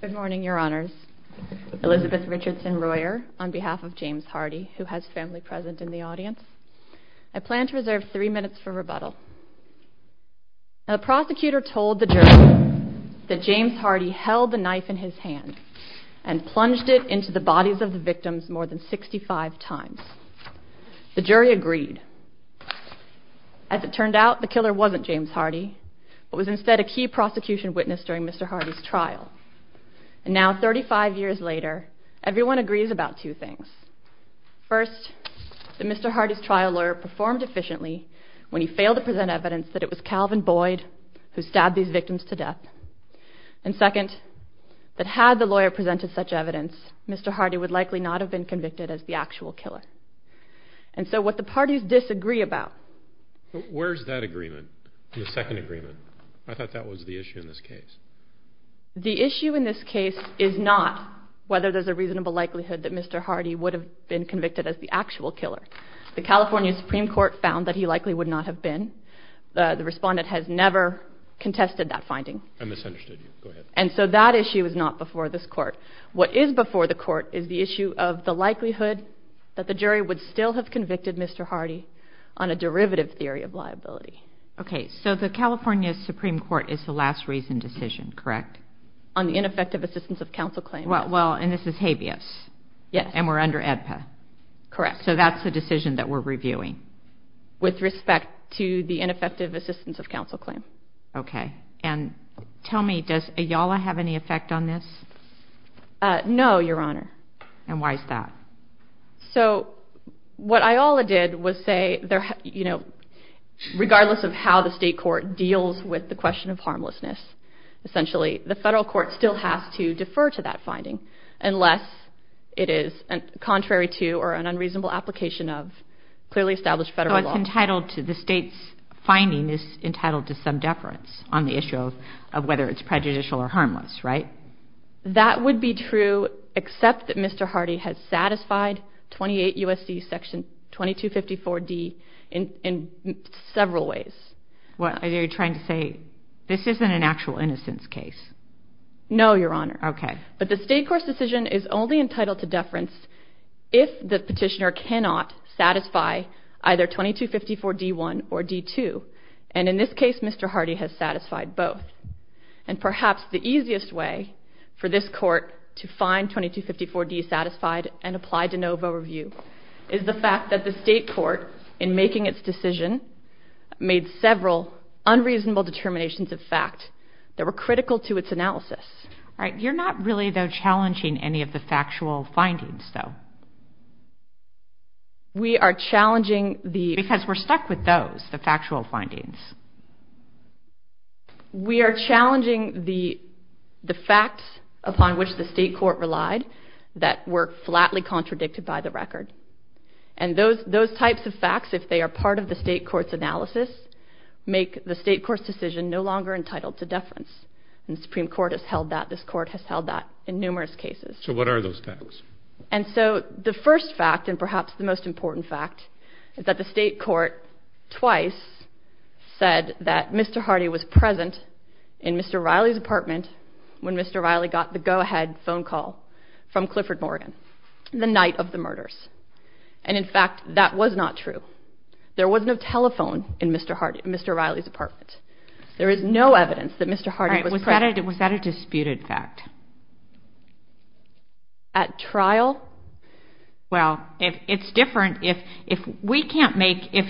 Good morning, your honors. Elizabeth Richardson-Royer on behalf of James Hardy, who has family present in the audience. I plan to reserve three minutes for rebuttal. Now the prosecutor told the jury that James Hardy held the knife in his hand and plunged it into the bodies of the victims more than 65 times. The jury agreed. As it turned out, the killer wasn't James Hardy, but was instead a key prosecution witness during Mr. Hardy's trial. And now 35 years later, everyone agrees about two things. First, that Mr. Hardy's trial lawyer performed efficiently when he failed to present evidence that it was Calvin Boyd who stabbed these victims to death. And second, that had the lawyer presented such evidence, Mr. Hardy would likely not have been convicted as the actual killer. And so what the parties disagree about. Where's that agreement? The second agreement? I thought that was the issue in this case. The issue in this case is not whether there's a reasonable likelihood that Mr. Hardy would have been convicted as the actual killer. The California Supreme Court found that he likely would not have been. The respondent has never contested that finding. I misunderstood you. Go ahead. And so that issue is not before this court. What is before the court is the likelihood that the jury would still have convicted Mr. Hardy on a derivative theory of liability. Okay. So the California Supreme Court is the last reason decision, correct? On the ineffective assistance of counsel claim. Well, and this is habeas. Yes. And we're under AEDPA. Correct. So that's the decision that we're reviewing. With respect to the ineffective assistance of counsel claim. Okay. And tell me, does Ayala have any effect on this? No, Your Honor. And why is that? So what Ayala did was say, you know, regardless of how the state court deals with the question of harmlessness, essentially, the federal court still has to defer to that finding unless it is contrary to or an unreasonable application of clearly established federal law. So it's entitled to, the state's finding is entitled to some deference on the issue of whether it's prejudicial or harmless, right? That would be true except that Mr. Hardy has satisfied 28 U.S.C. Section 2254D in several ways. What are you trying to say? This isn't an actual innocence case. No, Your Honor. Okay. But the state court's decision is only entitled to deference if the petitioner cannot satisfy either 2254D1 or D2. And in this case, Mr. Hardy has satisfied both. And perhaps the easiest way for this 2254D satisfied and applied de novo review is the fact that the state court, in making its decision, made several unreasonable determinations of fact that were critical to its analysis. All right. You're not really, though, challenging any of the factual findings, though. We are challenging the... Because we're stuck with those, the factual findings. We are challenging the facts upon which the state court relied that were flatly contradicted by the record. And those types of facts, if they are part of the state court's analysis, make the state court's decision no longer entitled to deference. And the Supreme Court has held that. This court has held that in numerous cases. So what are those facts? And so the first fact, and perhaps the most important fact, is that the state court twice said that Mr. Hardy was present in Mr. Riley's apartment when Mr. Riley got the go-ahead phone call from Clifford Morgan the night of the murders. And, in fact, that was not true. There was no telephone in Mr. Riley's apartment. There is no evidence that Mr. Hardy was present. All right. Was that a disputed fact? At trial? Well, it's different. If we can't make... You're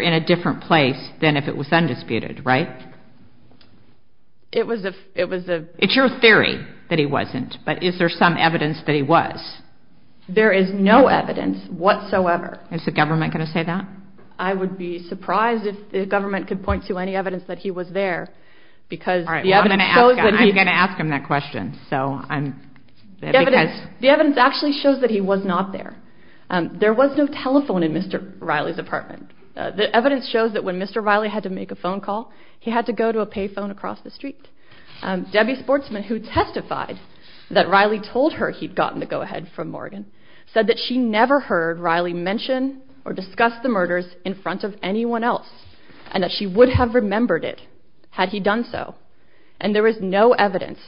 in a different place than if it was undisputed, right? It was a... It's your theory that he wasn't, but is there some evidence that he was? There is no evidence whatsoever. Is the government going to say that? I would be surprised if the government could point to any evidence that he was there, because... All right. I'm going to ask him that question. So I'm... The evidence actually shows that he was not there. There was no telephone in Mr. Riley's apartment. The evidence shows that when Mr. Riley had to make a phone call, he had to go to a pay phone across the street. Debbie Sportsman, who testified that Riley told her he'd gotten the go-ahead from Morgan, said that she never heard Riley mention or discuss the murders in front of anyone else, and that she would have remembered it had he done so. And there is no evidence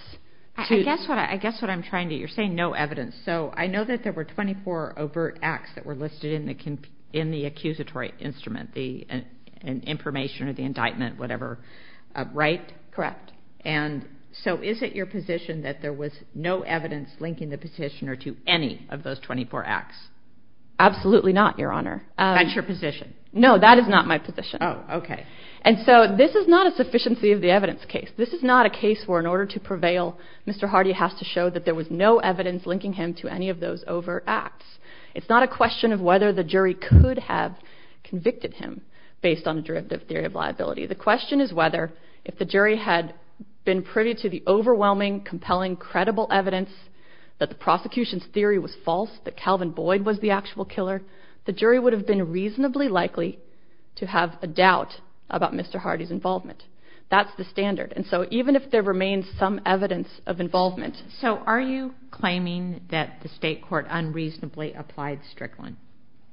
to... I guess what I'm trying to... You're saying no evidence. So I know that there were 24 overt acts that were listed in the accusatory instrument, the information or the indictment, whatever, right? Correct. And so is it your position that there was no evidence linking the petitioner to any of those 24 acts? Absolutely not, Your Honor. That's your position? No, that is not my position. Oh, okay. And so this is not a sufficiency of the evidence case. This is not a case where in order to linking him to any of those over acts. It's not a question of whether the jury could have convicted him based on a derivative theory of liability. The question is whether, if the jury had been privy to the overwhelming, compelling, credible evidence that the prosecution's theory was false, that Calvin Boyd was the actual killer, the jury would have been reasonably likely to have a doubt about Mr. Hardy's involvement. That's the standard. And so even if there was no evidence, you're saying that the state court unreasonably applied Strickland?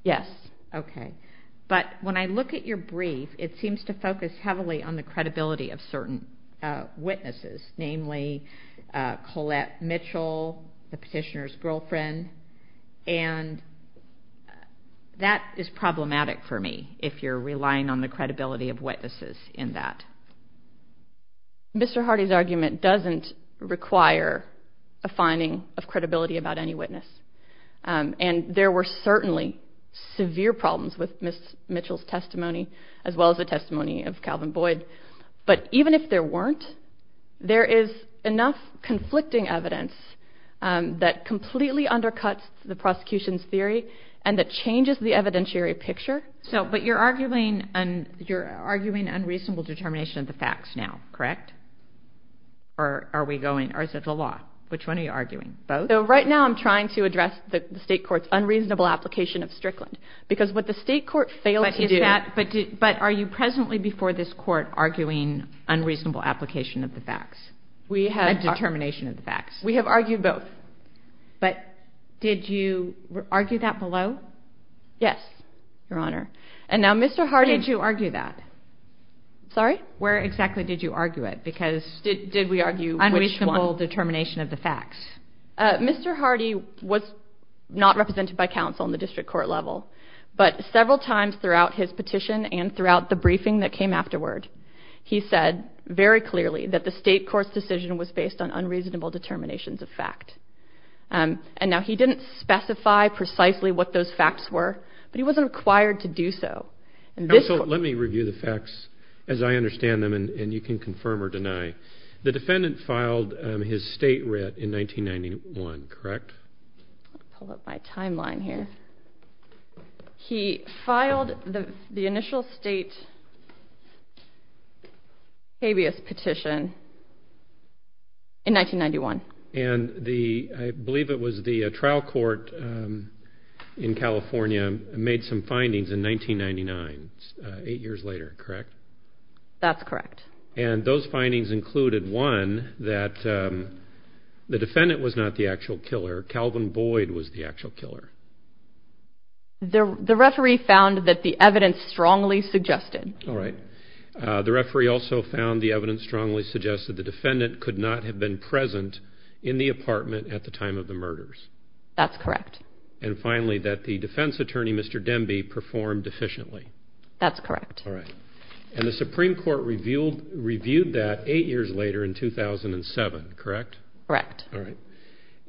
Yes. Okay. But when I look at your brief, it seems to focus heavily on the credibility of certain witnesses, namely Colette Mitchell, the petitioner's girlfriend, and that is problematic for me if you're relying on the credibility of witnesses in that. Mr. Hardy's argument doesn't require a finding of credibility about any witness. And there were certainly severe problems with Ms. Mitchell's testimony as well as the testimony of Calvin Boyd. But even if there weren't, there is enough conflicting evidence that completely undercuts the prosecution's theory and that changes the evidentiary picture. So, but you're arguing unreasonable determination of the facts now, correct? Or is it the law? Which one are you arguing? Both? So right now I'm trying to address the state court's unreasonable application of Strickland. Because what the state court failed to do... But are you presently before this court arguing unreasonable application of the facts? We have... And determination of the facts. We have argued both. But did you argue that below? Yes, Your Honor. And now Mr. Hardy... When did you argue that? Sorry? Where exactly did you argue it? Because did we argue which one? Unreasonable determination of the facts. Mr. Hardy was not represented by counsel in the district court level, but several times throughout his petition and throughout the briefing that came afterward, he said very clearly that the state court's decision was based on unreasonable determinations of fact. And now he didn't specify precisely what those facts were, but he wasn't required to do so. So let me review the facts as I understand them and you can confirm or deny. The defendant filed his state writ in 1991, correct? I'll pull up my timeline here. He filed the initial state habeas petition in 1991. And the, I believe it was the trial court in California made some findings in 1999, eight years later, correct? That's correct. And those findings included, one, that the defendant was not the actual killer. Calvin Boyd was the actual killer. The referee found that the evidence strongly suggested... All right. The referee also found the evidence strongly suggested the defendant could not have been present in the apartment at the time of the murders. That's correct. And finally, that the defense attorney, Mr. Demby, performed efficiently. That's correct. All right. And the Supreme Court reviewed that eight years later in 2007, correct? Correct. All right.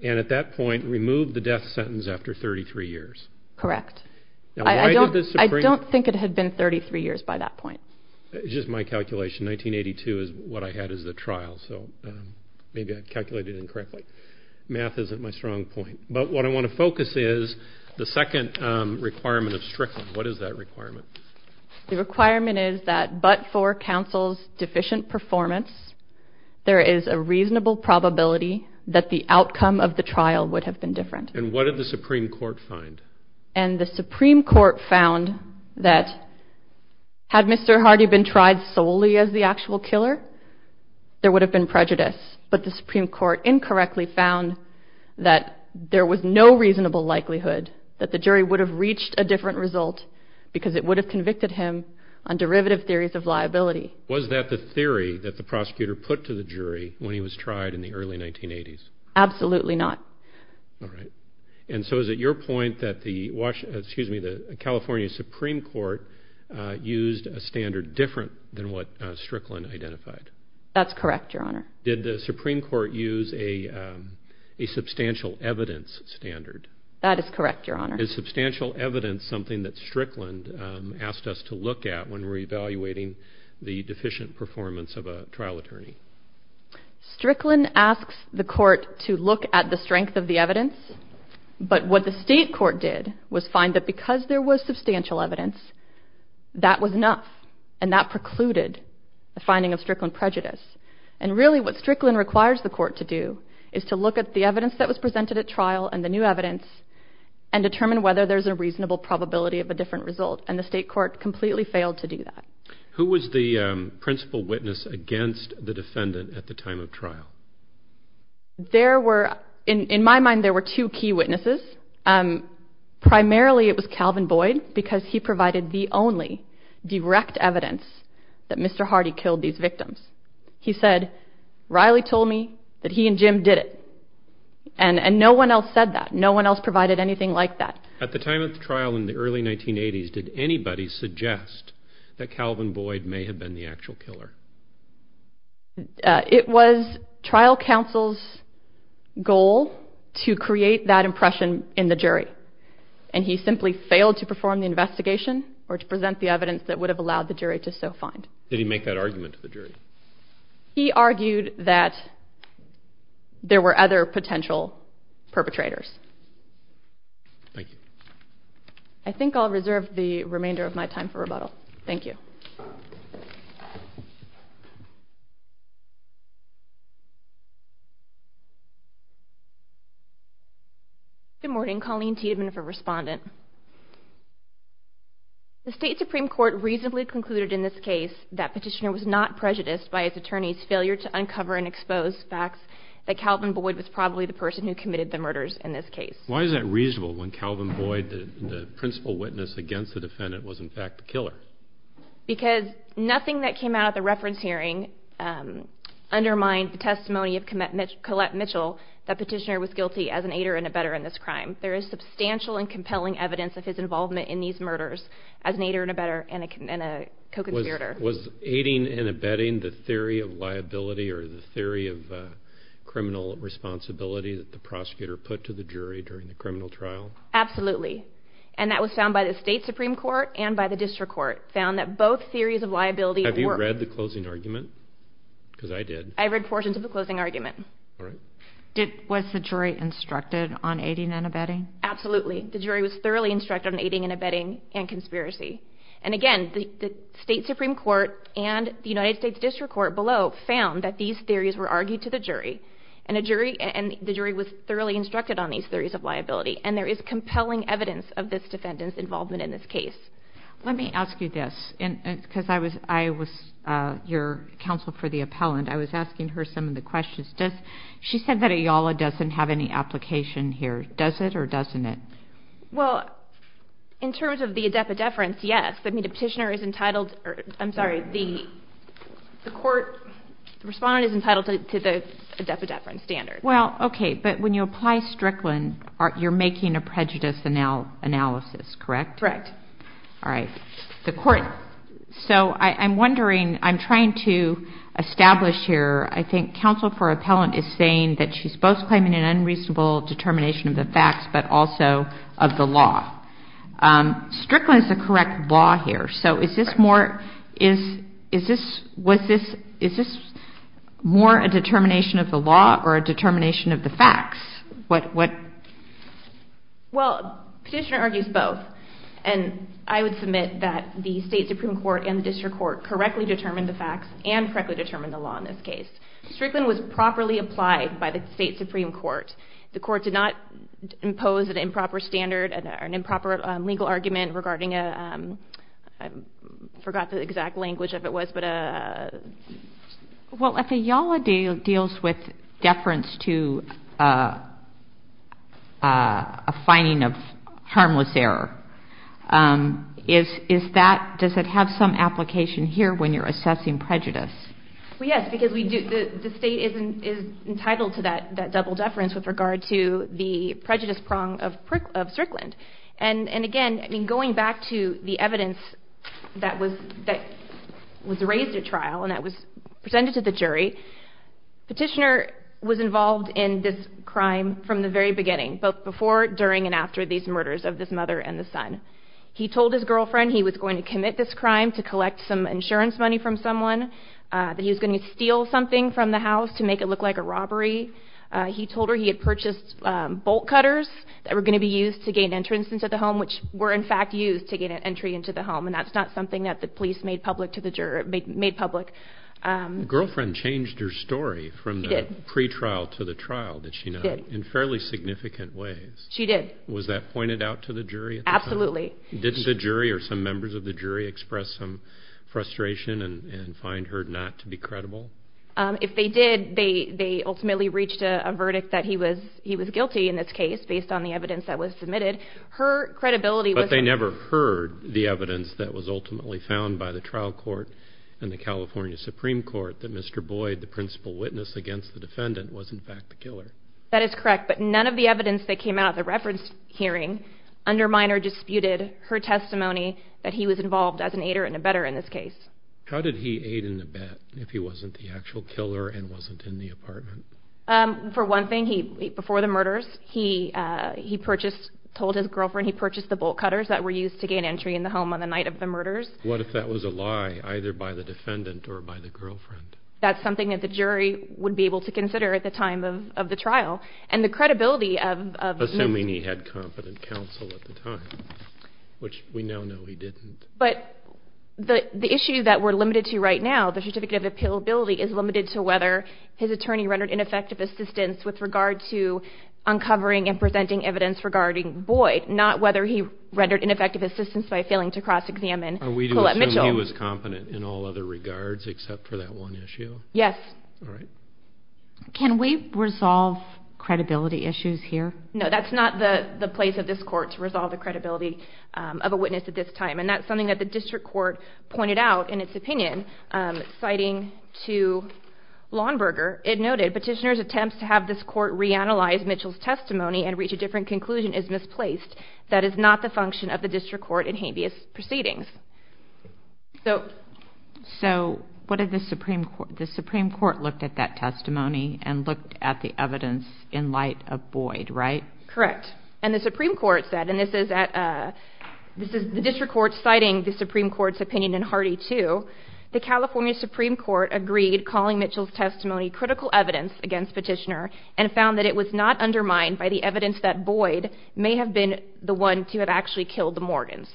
And at that point, removed the death sentence after 33 years. Correct. I don't think it had been 33 years by that point. It's just my calculation. 1982 is what I had as the death sentence. Maybe I calculated incorrectly. Math isn't my strong point. But what I want to focus is the second requirement of Strickland. What is that requirement? The requirement is that but for counsel's deficient performance, there is a reasonable probability that the outcome of the trial would have been different. And what did the Supreme Court find? And the Supreme Court found that had Mr. Hardy been tried solely as the actual killer, there would have been prejudice. But the Supreme Court incorrectly found that there was no reasonable likelihood that the jury would have reached a different result because it would have convicted him on derivative theories of liability. Was that the theory that the prosecutor put to the jury when he was tried in the early 1980s? Absolutely not. All right. And so is it your point that the Washington, excuse me, the California Supreme Court used a standard different than what Strickland identified? That's correct, Your Honor. Did the Supreme Court use a substantial evidence standard? That is correct, Your Honor. Is substantial evidence something that Strickland asked us to look at when we're evaluating the deficient performance of a trial attorney? Strickland asks the court to look at the strength of the evidence. But what the state court did was find that because there was substantial evidence, that was enough. And that precluded the finding of Strickland prejudice. And really what Strickland requires the court to do is to look at the evidence that was presented at trial and the new evidence and determine whether there's a reasonable probability of a different result. And the state court completely failed to do that. Who was the principal witness against the defendant at the time of trial? There were, in my mind, there were two key witnesses. Primarily it was Calvin Boyd because he provided the only direct evidence that Mr. Hardy killed these victims. He said, Riley told me that he and Jim did it. And no one else said that. No one else provided anything like that. At the time of the trial in the early 1980s, did anybody suggest that Calvin Boyd did it? The trial counsel's goal to create that impression in the jury. And he simply failed to perform the investigation or to present the evidence that would have allowed the jury to so find. Did he make that argument to the jury? He argued that there were other potential perpetrators. Thank you. I think I'll reserve the remainder of my time for rebuttal. Thank you. Good morning. Colleen Tiedemann for Respondent. The State Supreme Court reasonably concluded in this case that Petitioner was not prejudiced by his attorney's failure to uncover and expose facts that Calvin Boyd was probably the person who committed the murders in this case. Why is that reasonable when Calvin Boyd, the principal witness against the defendant, was in fact the killer? Because nothing that came out of the reference hearing undermined the testimony of Collette Mitchell that Petitioner was guilty as an aider and abetter in this crime. There is substantial and compelling evidence of his involvement in these murders as an aider and abetter and a co-conspirator. Was aiding and abetting the theory of liability or the theory of criminal responsibility that the prosecutor put to the jury during the criminal trial? Absolutely. And that was found by the State Supreme Court and by the District Court, found that both theories of liability... Have you read the closing argument? Because I did. I read portions of the closing argument. Was the jury instructed on aiding and abetting? Absolutely. The jury was thoroughly instructed on aiding and abetting and conspiracy. And again, the State Supreme Court and the United States District Court below found that these theories were argued to the jury and the jury was thoroughly instructed on these theories of liability. And there is compelling evidence of this defendant's involvement in this case. Let me ask you this, because I was your counsel for the appellant. I was asking her some of the questions. She said that Ayala doesn't have any application here. Does it or doesn't it? Well, in terms of the adepa deference, yes. I mean, the Petitioner is entitled... I'm sorry, the respondent is entitled to the adepa deference standard. Well, okay. But when you apply Strickland, you're making a prejudice analysis, correct? Correct. All right. The court... So I'm wondering, I'm trying to establish here, I think counsel for appellant is saying that she's both claiming an unreasonable determination of the facts, but also of the law. Strickland is the correct law here. So is this more a determination of the law or a determination of the facts? What... Well, Petitioner argues both. And I would submit that the State Supreme Court and the District Court correctly determined the facts and correctly determined the law in this case. Strickland was properly applied by the State Supreme Court. The court did not impose an improper standard or an improper legal argument regarding a... I forgot the exact language of it was, but a... Well, if Yala deals with deference to a finding of harmless error, is that... Does it have some application here when you're assessing prejudice? Well, yes, because we do... The State is entitled to that double deference with regard to the prejudice prong of Strickland. And again, I mean, going back to the evidence that was raised at trial and that was presented to the jury, Petitioner was involved in this crime from the very beginning, both before, during, and after these murders of this mother and the son. He told his girlfriend he was going to commit this crime to collect some insurance money from someone, that he was going to steal something from the house to make it look like a robbery. He told her he had purchased bolt cutters that were going to be used to gain entrance into the home, which were in fact used to gain an entry into the home. And that's not something that the police made public to the jury... Made public. Girlfriend changed her story from the pre-trial to the trial, did she not? She did. In fairly significant ways. She did. Was that pointed out to the jury at the time? Absolutely. Did the jury or some members of the jury express some frustration and find her not to be credible? If they did, they ultimately reached a verdict that he was guilty in this case based on the evidence that was submitted. Her credibility was... But they never heard the evidence that was ultimately found by the trial court and the California Supreme Court that Mr. Boyd, the principal witness against the defendant, was in fact the killer. That is correct, but none of the evidence that came out at the reference hearing under Minor disputed her testimony that he was involved as an aider and abetter in this case. How did he aid and abet if he wasn't the actual killer and wasn't in the apartment? For one thing, he, before the murders, he purchased, told his girlfriend he purchased the bolt cutters that were used to gain entry in the home on the night of the murders. What if that was a lie, either by the defendant or by the girlfriend? That's something that the jury would be able to consider at the time of the trial. And the credibility of... Assuming he had competent counsel at the time, which we now know he didn't. But the issue that we're limited to right now, the certificate of appealability, is limited to whether his attorney rendered ineffective assistance with regard to uncovering and presenting evidence regarding Boyd, not whether he rendered ineffective assistance by failing to cross-examine Colette Mitchell. Are we to assume he was competent in all other regards except for that one issue? Yes. All right. Can we resolve credibility issues here? No, that's not the place of this court to resolve the credibility of a witness at this time. And that's something that the district court pointed out in its opinion, citing to Lawnberger. It noted, petitioner's attempts to have this court reanalyze Mitchell's testimony and reach a different conclusion is misplaced. That is not the function of the district court in habeas proceedings. So what did the Supreme Court... The Supreme Court looked at that testimony and looked at the evidence in light of Boyd, right? Correct. And the Supreme Court said... And this is at... This is the district court citing the Supreme Court's opinion in Hardy too. The California Supreme Court agreed calling Mitchell's testimony critical evidence against Petitioner and found that it was not undermined by the evidence that Boyd may have been the one to have actually killed the Morgans.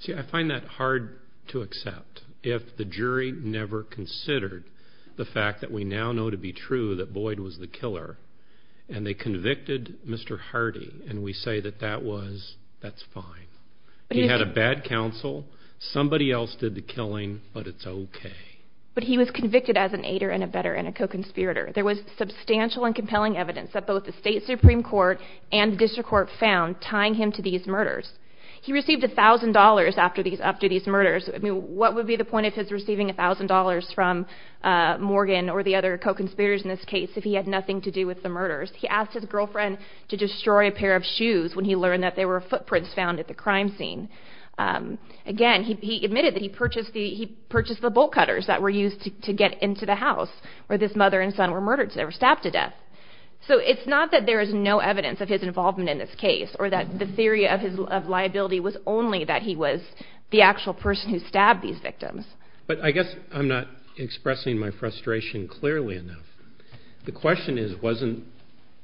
See, I find that hard to accept if the jury never considered the fact that we now know to be true that Boyd was the killer and they convicted Mr. Hardy and we say that that was... That's fine. He had a bad counsel, somebody else did the killing, but it's okay. But he was convicted as an aider and a better and a co-conspirator. There was substantial and compelling evidence that both the state Supreme Court and district court found tying him to these murders. He received $1,000 after these murders. What would be the point of his receiving $1,000 from Morgan or the other co-conspirators in this case if he had nothing to do with the murders? He asked his girlfriend to destroy a pair of shoes when he learned that there were footprints found at the crime scene. Again, he admitted that he purchased the bolt cutters that were used to get into the house where this mother and son were murdered, they were stabbed to death. So it's not that there is no evidence of his involvement in this case or that the theory of liability was only that he was the actual person who stabbed these victims. But I guess I'm not expressing my frustration clearly enough. The question is wasn't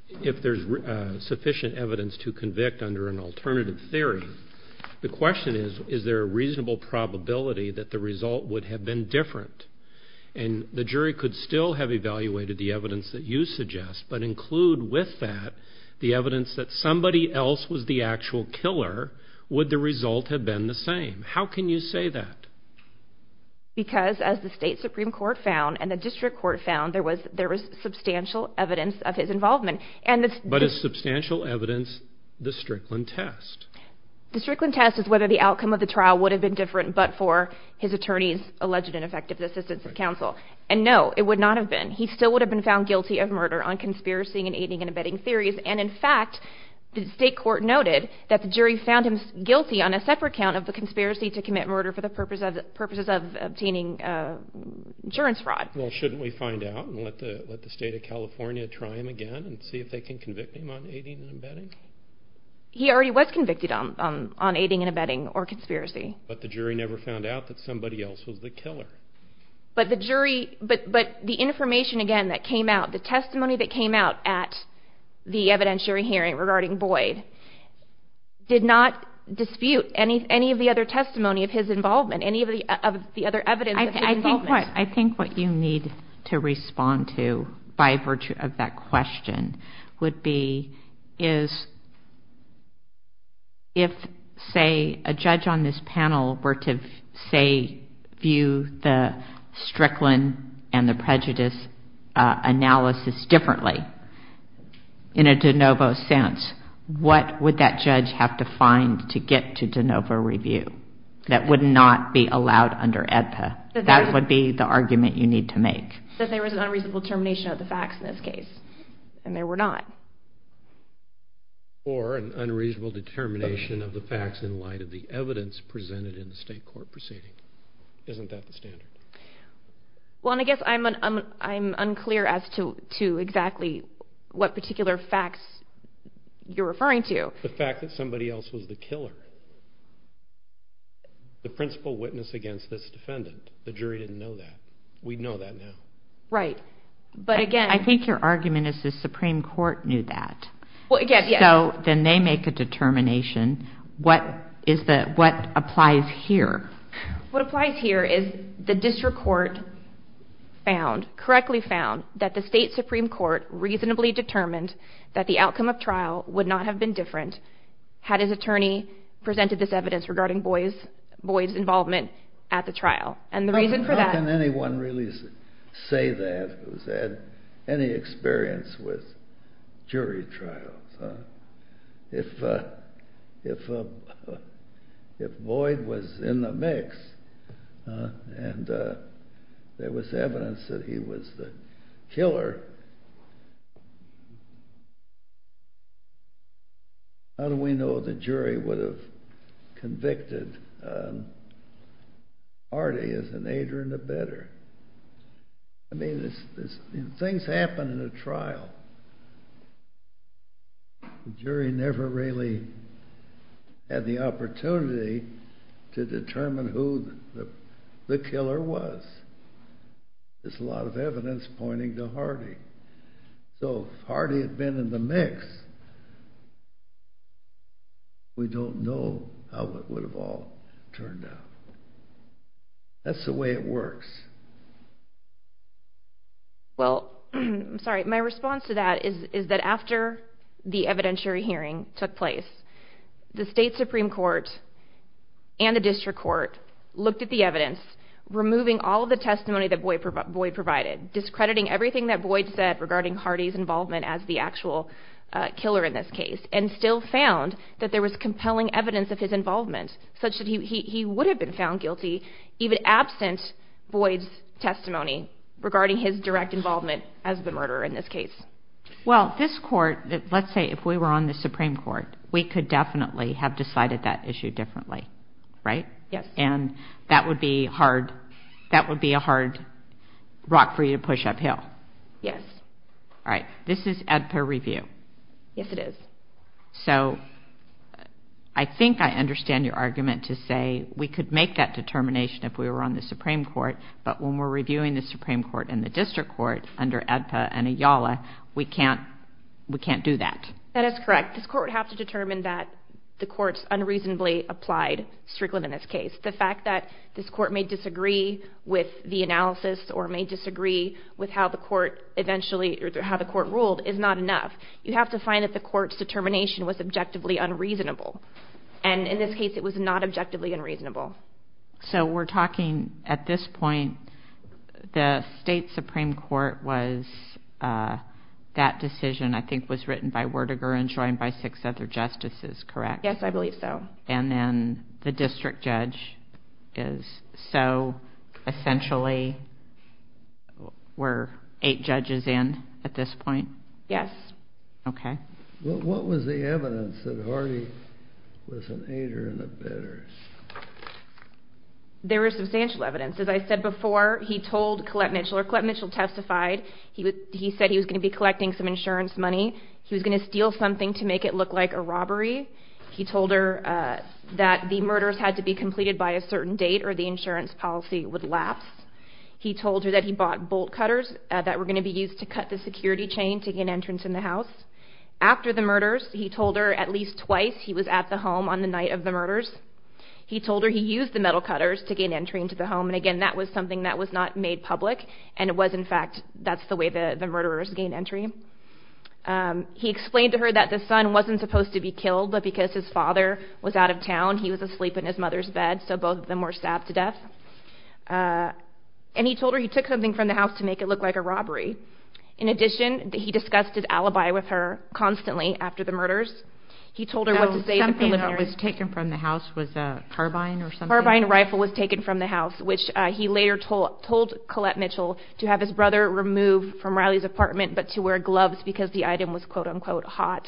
if there's sufficient evidence to convict under an alternative theory. The question is, is there a reasonable probability that the result would have been different? And the jury could still have evaluated the evidence that you suggest, but include with that the evidence that somebody else was the actual killer. Would the result have been the same? How can you say that? Because as the state Supreme Court found and the district court found, there was substantial evidence of his involvement. But is substantial evidence the Strickland test? The Strickland test is whether the outcome of the trial would have been different but for his attorney's alleged ineffective assistance of counsel. And no, it would not have been. He still would have been found guilty of murder on conspiracy and aiding and abetting theories. And in fact, the state court noted that the jury found him guilty on a separate count of the conspiracy to commit murder for the purposes of obtaining insurance fraud. Well, shouldn't we find out and let the state of California try him again and see if they can convict him on aiding and abetting? He already was convicted on aiding and abetting or conspiracy. But the jury never found out that somebody else was the killer. But the information again that came out, the testimony that came out at the evidentiary hearing regarding Boyd did not dispute any of the other testimony of his involvement, any of the other evidence of his involvement. I think what you need to respond to by virtue of that question would be is if, say, a judge on this panel were to, say, view the Strickland and the prejudice analysis differently in a de novo sense, what would that judge have to find to get to de novo review that would not be allowed under AEDPA? That would be the argument you need to make. That there was an unreasonable determination of the facts in this case, and there were not. Or an unreasonable determination of the facts in light of the evidence presented in the state court proceeding. Isn't that the standard? Well, and I guess I'm unclear as to exactly what particular facts you're referring to. The fact that somebody else was the killer. The principal witness against this defendant. The jury didn't know that. We know that now. Right. But again... I think your argument is the Supreme Court knew that. Well, again, yes. So then they make a determination. What is the... What applies here? What applies here is the district court found, correctly found, that the state Supreme Court reasonably determined that the outcome of trial would not have been different had his attorney presented this evidence regarding Boyd's involvement at the trial. And the reason for that... How can anyone really say that who's had any experience with jury trials? If Boyd was in the mix, and there was evidence that he was the killer, how do we know the jury would have convicted Artie as an aider and abetter? I mean, things happen in a trial. The jury never really had the opportunity to determine who the killer was. There's a lot of evidence pointing to Artie. So if Artie had been in the mix, we don't know how it would have all turned out. That's the way it works. Well, sorry, my response to that is that after the evidentiary hearing took place, the state Supreme Court and the district court looked at the evidence, removing all of the testimony that Boyd provided, discrediting everything that Boyd said regarding Artie's involvement as the actual killer in this case, and still found that there was compelling evidence of Boyd's testimony regarding his direct involvement as the murderer in this case. Well, this court, let's say if we were on the Supreme Court, we could definitely have decided that issue differently, right? And that would be a hard rock for you to push uphill. This is Edper review. So I think I understand your argument to say we could make that determination if we were on the Supreme Court, but when we're reviewing the Supreme Court and the district court under Edper and Ayala, we can't do that. That is correct. This court would have to determine that the court's unreasonably applied, strictly in this case. The fact that this court may disagree with the analysis or may disagree with how the court eventually, or how the court ruled, is not enough. You have to find that the court's determination was objectively unreasonable. And in this case, it was not objectively unreasonable. So we're talking, at this point, the state Supreme Court was, that decision I think was written by Werdegar and joined by six other justices, correct? Yes, I believe so. And then the district judge is, so essentially, were eight judges in at this point? Yes. Okay. What was the evidence that Hardy was an aider and abetter? There was substantial evidence. As I said before, he told Colette Mitchell, or Colette Mitchell testified, he said he was going to be collecting some insurance money, he was going to steal something to make it look like a robbery. He told her that the murders had to be completed by a certain date or the insurance policy would lapse. He told her that he bought bolt cutters that were going to be used to cut the security chain to gain entrance in the house. After the murders, he told her at least twice he was at the home on the night of the murders. He told her he used the metal cutters to gain entry into the home, and again, that was something that was not made public, and it was in fact, that's the way the murderers gained entry. He explained to her that the son wasn't supposed to be killed, but because his father was out of town, he was asleep in his mother's bed, so both of them were stabbed to death. And he told her he took something from the house to make it look like a robbery. In addition, he discussed his alibi with her constantly after the murders. He told her what to say at the preliminary. Oh, something that was taken from the house was a carbine or something? Carbine rifle was taken from the house, which he later told Colette Mitchell to have his brother remove from Riley's apartment, but to wear gloves because the item was quote unquote hot.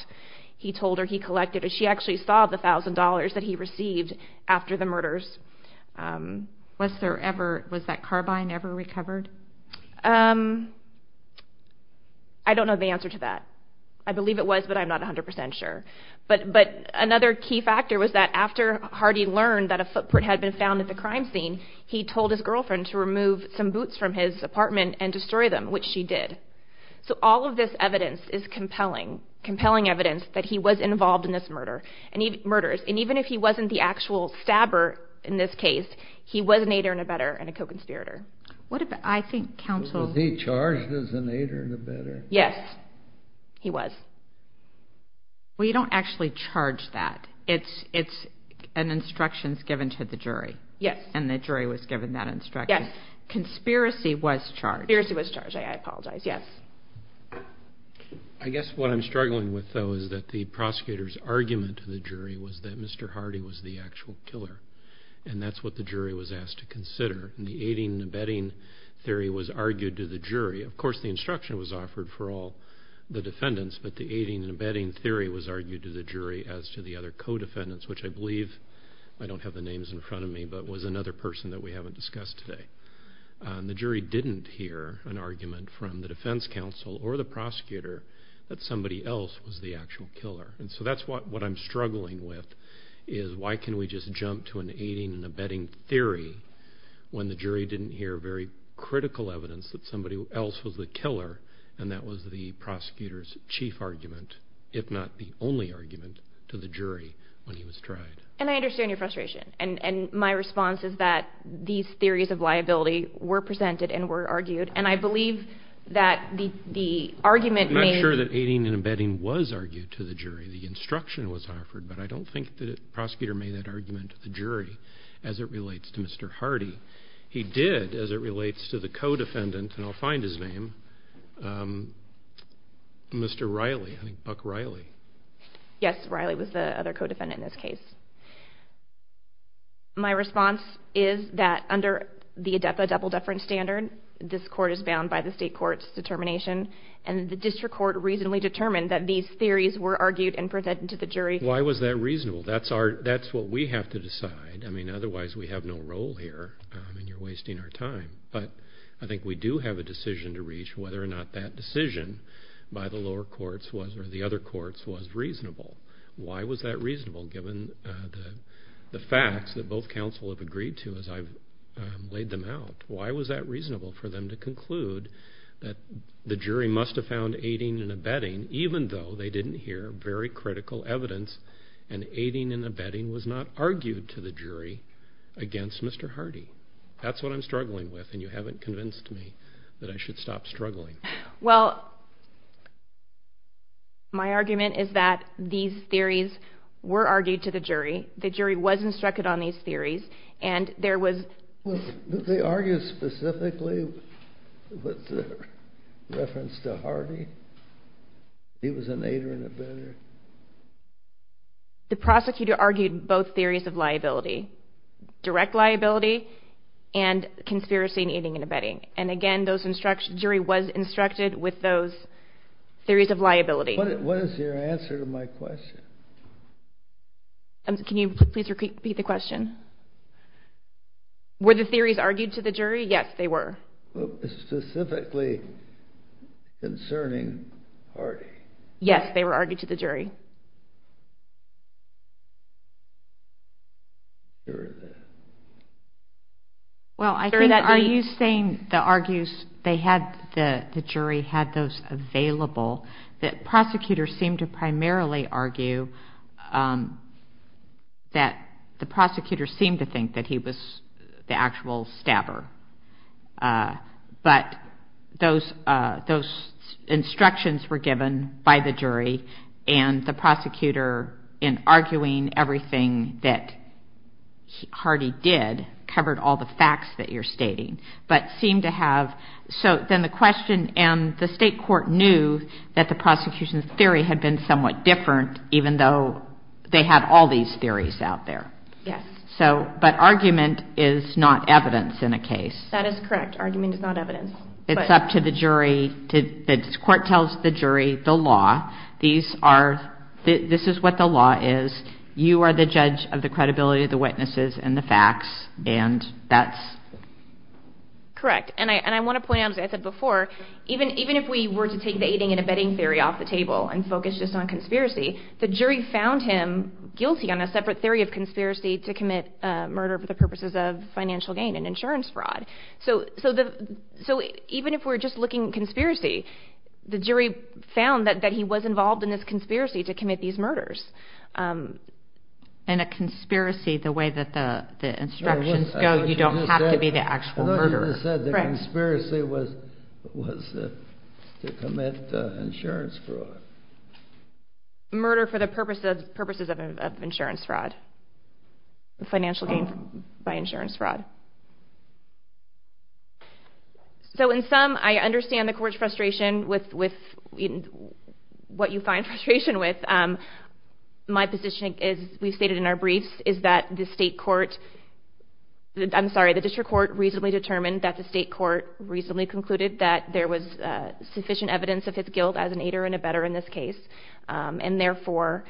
He told her he collected it. She actually saw the thousand dollars that he received after the murders. Was there ever, was that carbine ever recovered? Um, I don't know the answer to that. I believe it was, but I'm not 100% sure, but another key factor was that after Hardy learned that a footprint had been found at the crime scene, he told his girlfriend to remove some boots from his apartment and destroy them, which she did. So all of this evidence is compelling, compelling evidence that he was involved in this murder, and even if he wasn't the actual stabber in this case, he was an aider and abetter and a co-conspirator. What about, I think counsel... Was he charged as an aider and abetter? Yes. He was. Well, you don't actually charge that. It's, it's an instructions given to the jury. Yes. And the jury was given that instruction. Yes. Conspiracy was charged. Conspiracy was charged. I apologize. Yes. I guess what I'm struggling with though is that the prosecutor's argument to the jury was that Mr. Hardy was the actual killer and that's what the jury was asked to consider and the aiding and abetting theory was argued to the jury. Of course, the instruction was offered for all the defendants, but the aiding and abetting theory was argued to the jury as to the other co-defendants, which I believe, I don't have the names in front of me, but was another person that we haven't discussed today. The jury didn't hear an argument from the defense counsel or the prosecutor that somebody else was the actual killer. And so that's what, what I'm struggling with is why can we just jump to an aiding and abetting theory when the jury didn't hear very critical evidence that somebody else was the killer and that was the prosecutor's chief argument, if not the only argument, to the jury when he was tried. And I understand your frustration. And my response is that these theories of liability were presented and were argued and I believe that the argument made... I'm not sure that aiding and abetting was argued to the jury. The instruction was offered, but I don't think that the prosecutor made that argument to the jury as it relates to Mr. Hardy. He did as it relates to the co-defendant, and I'll find his name, Mr. Riley, I think Buck Riley. Yes, Riley was the other co-defendant in this case. My response is that under the ADEPA double deference standard, this court is bound by the state court's determination and the district court reasonably determined that these theories were argued and presented to the jury. Why was that reasonable? That's what we have to decide. I mean, otherwise we have no role here and you're wasting our time. But I think we do have a decision to reach whether or not that decision by the lower courts was or the other courts was reasonable. Why was that reasonable given the facts that both counsel have agreed to as I've laid them out? Why was that reasonable for them to conclude that the jury must have found aiding and abetting even though they didn't hear very critical evidence and aiding and abetting was not argued to the jury against Mr. Hardy? That's what I'm struggling with, and you haven't convinced me that I should stop struggling. Well, my argument is that these theories were argued to the jury. The jury was instructed on these theories, and there was... They argued specifically with reference to Hardy. He was an aider and abetter. The prosecutor argued both theories of liability, direct liability and conspiracy in aiding and abetting. And again, those instructions... The jury was instructed with those theories of liability. What is your answer to my question? Can you please repeat the question? Were the theories argued to the jury? Yes, they were. Specifically concerning Hardy. Yes, they were argued to the jury. Well, I think... Are you saying the argues... They had... The jury had those available. The prosecutor seemed to primarily argue that... The prosecutor seemed to think that he was the actual stabber. But those instructions were given by the jury, and the prosecutor, in arguing everything that Hardy did, covered all the facts that you're stating. But seemed to have... So then the question... And the state court knew that the prosecution's theory had been somewhat different, even though they had all these theories out there. Yes. But argument is not evidence in a case. That is correct. Argument is not evidence. It's up to the jury. The court tells the jury the law. These are... This is what the law is. You are the judge of the credibility of the witnesses and the facts, and that's... Correct. And I want to point out, as I said before, even if we were to take the aiding and abetting theory off the table and focus just on conspiracy, the jury found him guilty on a separate theory of conspiracy to commit murder for the purposes of financial gain and insurance fraud. So even if we're just looking at conspiracy, the jury found that he was involved in this conspiracy to commit these murders. And a conspiracy, the way that the instructions go, you don't have to be the actual murderer. As I said, the conspiracy was to commit insurance fraud. Murder for the purposes of insurance fraud. Financial gain by insurance fraud. So in sum, I understand the court's frustration with what you find frustration with. My position is, we stated in our briefs, is that the state court... I understand that the state court recently concluded that there was sufficient evidence of his guilt as an aider and abetter in this case, and therefore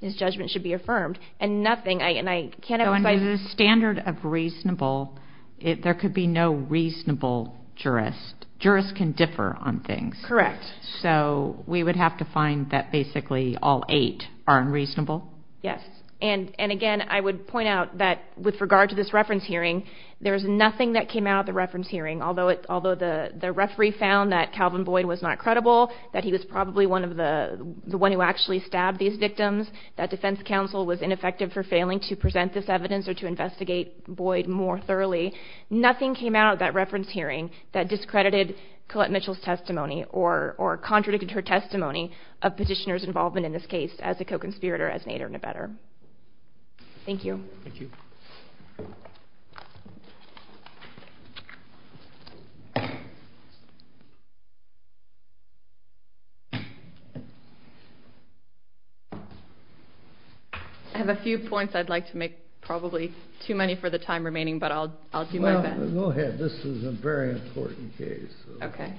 his judgment should be affirmed. And nothing... And I can't... So under the standard of reasonable, there could be no reasonable jurist. Jurists can differ on things. Correct. So we would have to find that basically all eight are unreasonable? Yes. And again, I would point out that with regard to this reference hearing, there's nothing that came out of the reference hearing, although the referee found that Calvin Boyd was not credible, that he was probably the one who actually stabbed these victims, that defense counsel was ineffective for failing to present this evidence or to investigate Boyd more thoroughly, nothing came out of that reference hearing that discredited Colette Mitchell's testimony or contradicted her testimony of petitioner's involvement in this case as a co-conspirator, as an aider and abetter. Thank you. Thank you. I have a few points I'd like to make, probably too many for the time remaining, but I'll do my best. Well, go ahead. This is a very important case. Okay.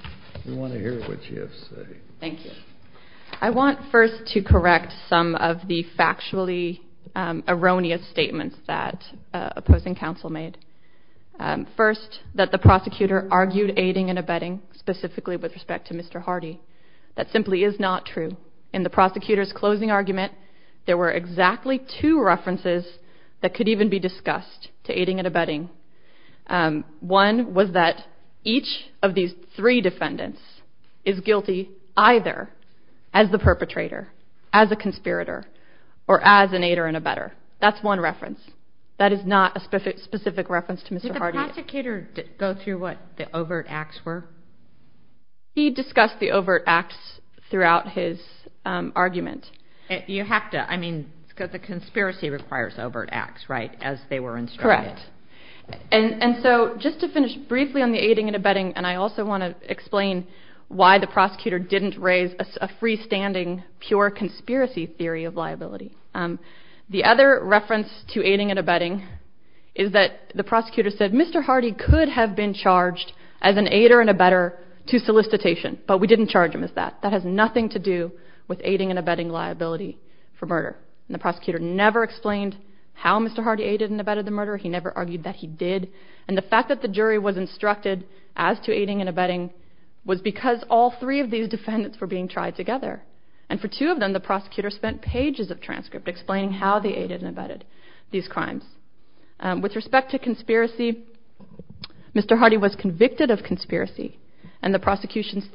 We want to hear what you have to say. Thank you. I want first to correct some of the factually erroneous statements that opposing counsel made. First, that the prosecutor argued aiding and abetting specifically with respect to Mr. Hardy. That simply is not true. In the prosecutor's closing argument, there were exactly two references that could even be discussed to aiding and abetting. One was that each of these three defendants is guilty either as the perpetrator, as a conspirator, or as an aider and abetter. That's one reference. That is not a specific reference to Mr. Hardy. Did the prosecutor go through what the overt acts were? He discussed the overt acts throughout his argument. You have to. I mean, because the conspiracy requires overt acts, right, as they were instructed. And so, just to finish briefly on the aiding and abetting, and I also want to explain why the prosecutor didn't raise a freestanding, pure conspiracy theory of liability. The other reference to aiding and abetting is that the prosecutor said Mr. Hardy could have been charged as an aider and abetter to solicitation, but we didn't charge him as that. That has nothing to do with aiding and abetting liability for murder. And the prosecutor never explained how Mr. Hardy aided and abetted the murder. He never argued that he did. And the fact that the jury was instructed as to aiding and abetting was because all three of these defendants were being tried together. And for two of them, the prosecutor spent pages of transcript explaining how they aided and abetted these crimes. With respect to conspiracy, Mr. Hardy was convicted of conspiracy, and the prosecution's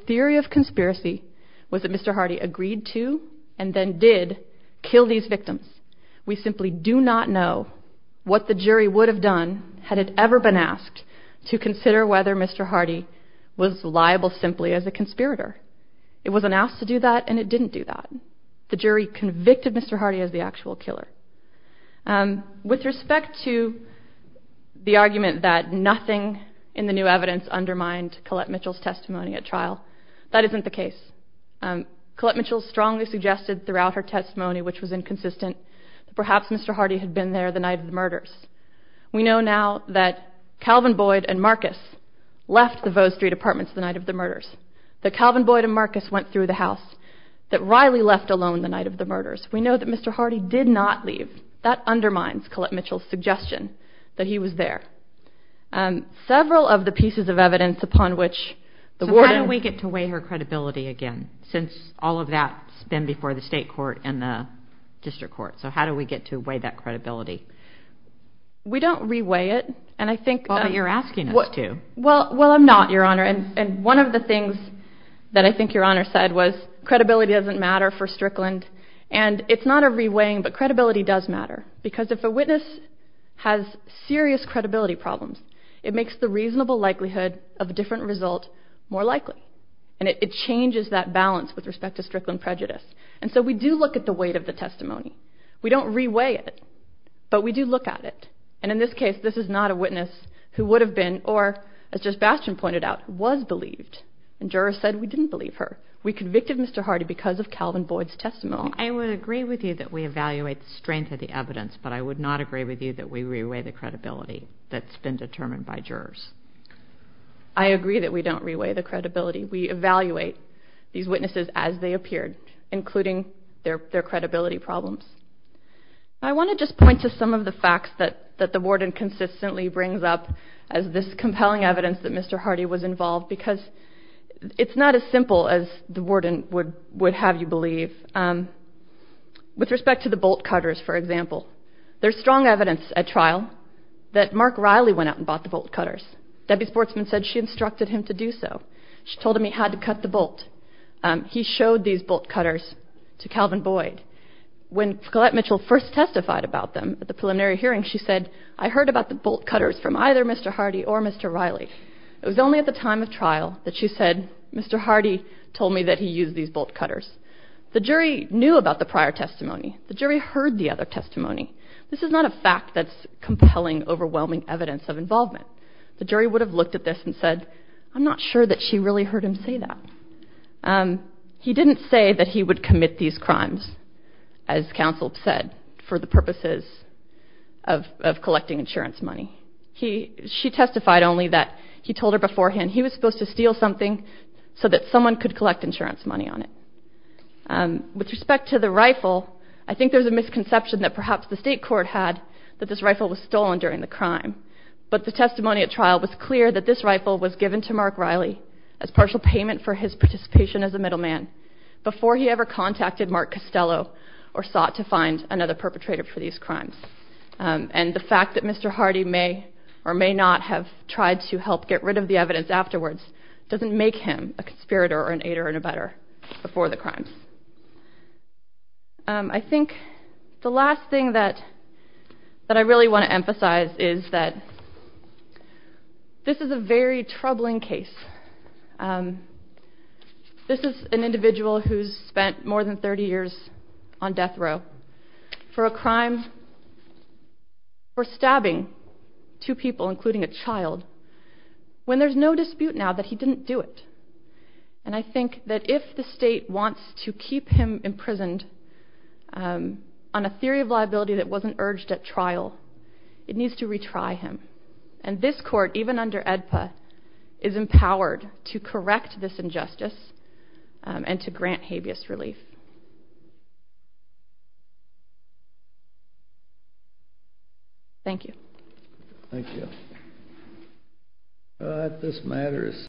was that Mr. Hardy agreed to, and then did, kill these victims. We simply do not know what the jury would have done, had it ever been asked, to consider whether Mr. Hardy was liable simply as a conspirator. It was announced to do that, and it didn't do that. The jury convicted Mr. Hardy as the actual killer. With respect to the argument that nothing in the new evidence undermined Colette Mitchell's that isn't the case. Colette Mitchell strongly suggested throughout her testimony, which was inconsistent, that perhaps Mr. Hardy had been there the night of the murders. We know now that Calvin Boyd and Marcus left the Vaux Street Apartments the night of the murders, that Calvin Boyd and Marcus went through the house, that Riley left alone the night of the murders. We know that Mr. Hardy did not leave. That undermines Colette Mitchell's suggestion that he was there. Several of the pieces of evidence upon which the warden How do we get to weigh her credibility again? Since all of that's been before the state court and the district court. So how do we get to weigh that credibility? We don't re-weigh it, and I think Well, but you're asking us to. Well, I'm not, Your Honor. And one of the things that I think Your Honor said was, credibility doesn't matter for Strickland. And it's not a re-weighing, but credibility does matter. Because if a witness has serious credibility problems, it makes the reasonable likelihood of a different result more likely. And it changes that balance with respect to Strickland prejudice. And so we do look at the weight of the testimony. We don't re-weigh it, but we do look at it. And in this case, this is not a witness who would have been, or as Judge Bastian pointed out, was believed. And jurors said we didn't believe her. We convicted Mr. Hardy because of Calvin Boyd's testimony. I would agree with you that we evaluate the strength of the evidence, but I would not agree with you that we re-weigh the credibility that's been determined by jurors. I agree that we don't re-weigh the credibility. We evaluate these witnesses as they appeared, including their credibility problems. I want to just point to some of the facts that the warden consistently brings up as this compelling evidence that Mr. Hardy was involved, because it's not as simple as the warden would have you believe. With respect to the bolt cutters, for example, there's strong evidence at trial that Mark Riley went out and bought the bolt cutters. Debbie Sportsman said she instructed him to do so. She told him he had to cut the bolt. He showed these bolt cutters to Calvin Boyd. When Collette Mitchell first testified about them at the preliminary hearing, she said, I heard about the bolt cutters from either Mr. Hardy or Mr. Riley. It was only at the time of trial that she said, Mr. Hardy told me that he used these bolt cutters. The jury knew about the prior testimony. The jury heard the other testimony. This is not a fact that's compelling, overwhelming evidence of involvement. The jury would have looked at this and said, I'm not sure that she really heard him say that. He didn't say that he would commit these crimes, as counsel said, for the purposes of collecting insurance money. She testified only that he told her beforehand he was supposed to steal something so that someone could collect insurance money on it. With respect to the rifle, I think there's a misconception that perhaps the state court had that this rifle was stolen during the crime. But the testimony at trial was clear that this rifle was given to Mark Riley as partial payment for his participation as a middleman before he ever contacted Mark Costello or sought to find another perpetrator for these crimes. And the fact that Mr. Hardy may or may not have tried to help get rid of the evidence afterwards doesn't make him a conspirator or an aider-in-a-butter before the crimes. I think the last thing that I really want to emphasize is that this is a very troubling case. This is an individual who's spent more than 30 years on death row for a crime for stabbing two people, including a child, when there's no dispute now that he didn't do it. And I think that if the state wants to keep him imprisoned on a theory of liability that wasn't urged at trial, it needs to retry him. And this court, even under AEDPA, is empowered to correct this injustice and to grant habeas relief. Thank you. Thank you.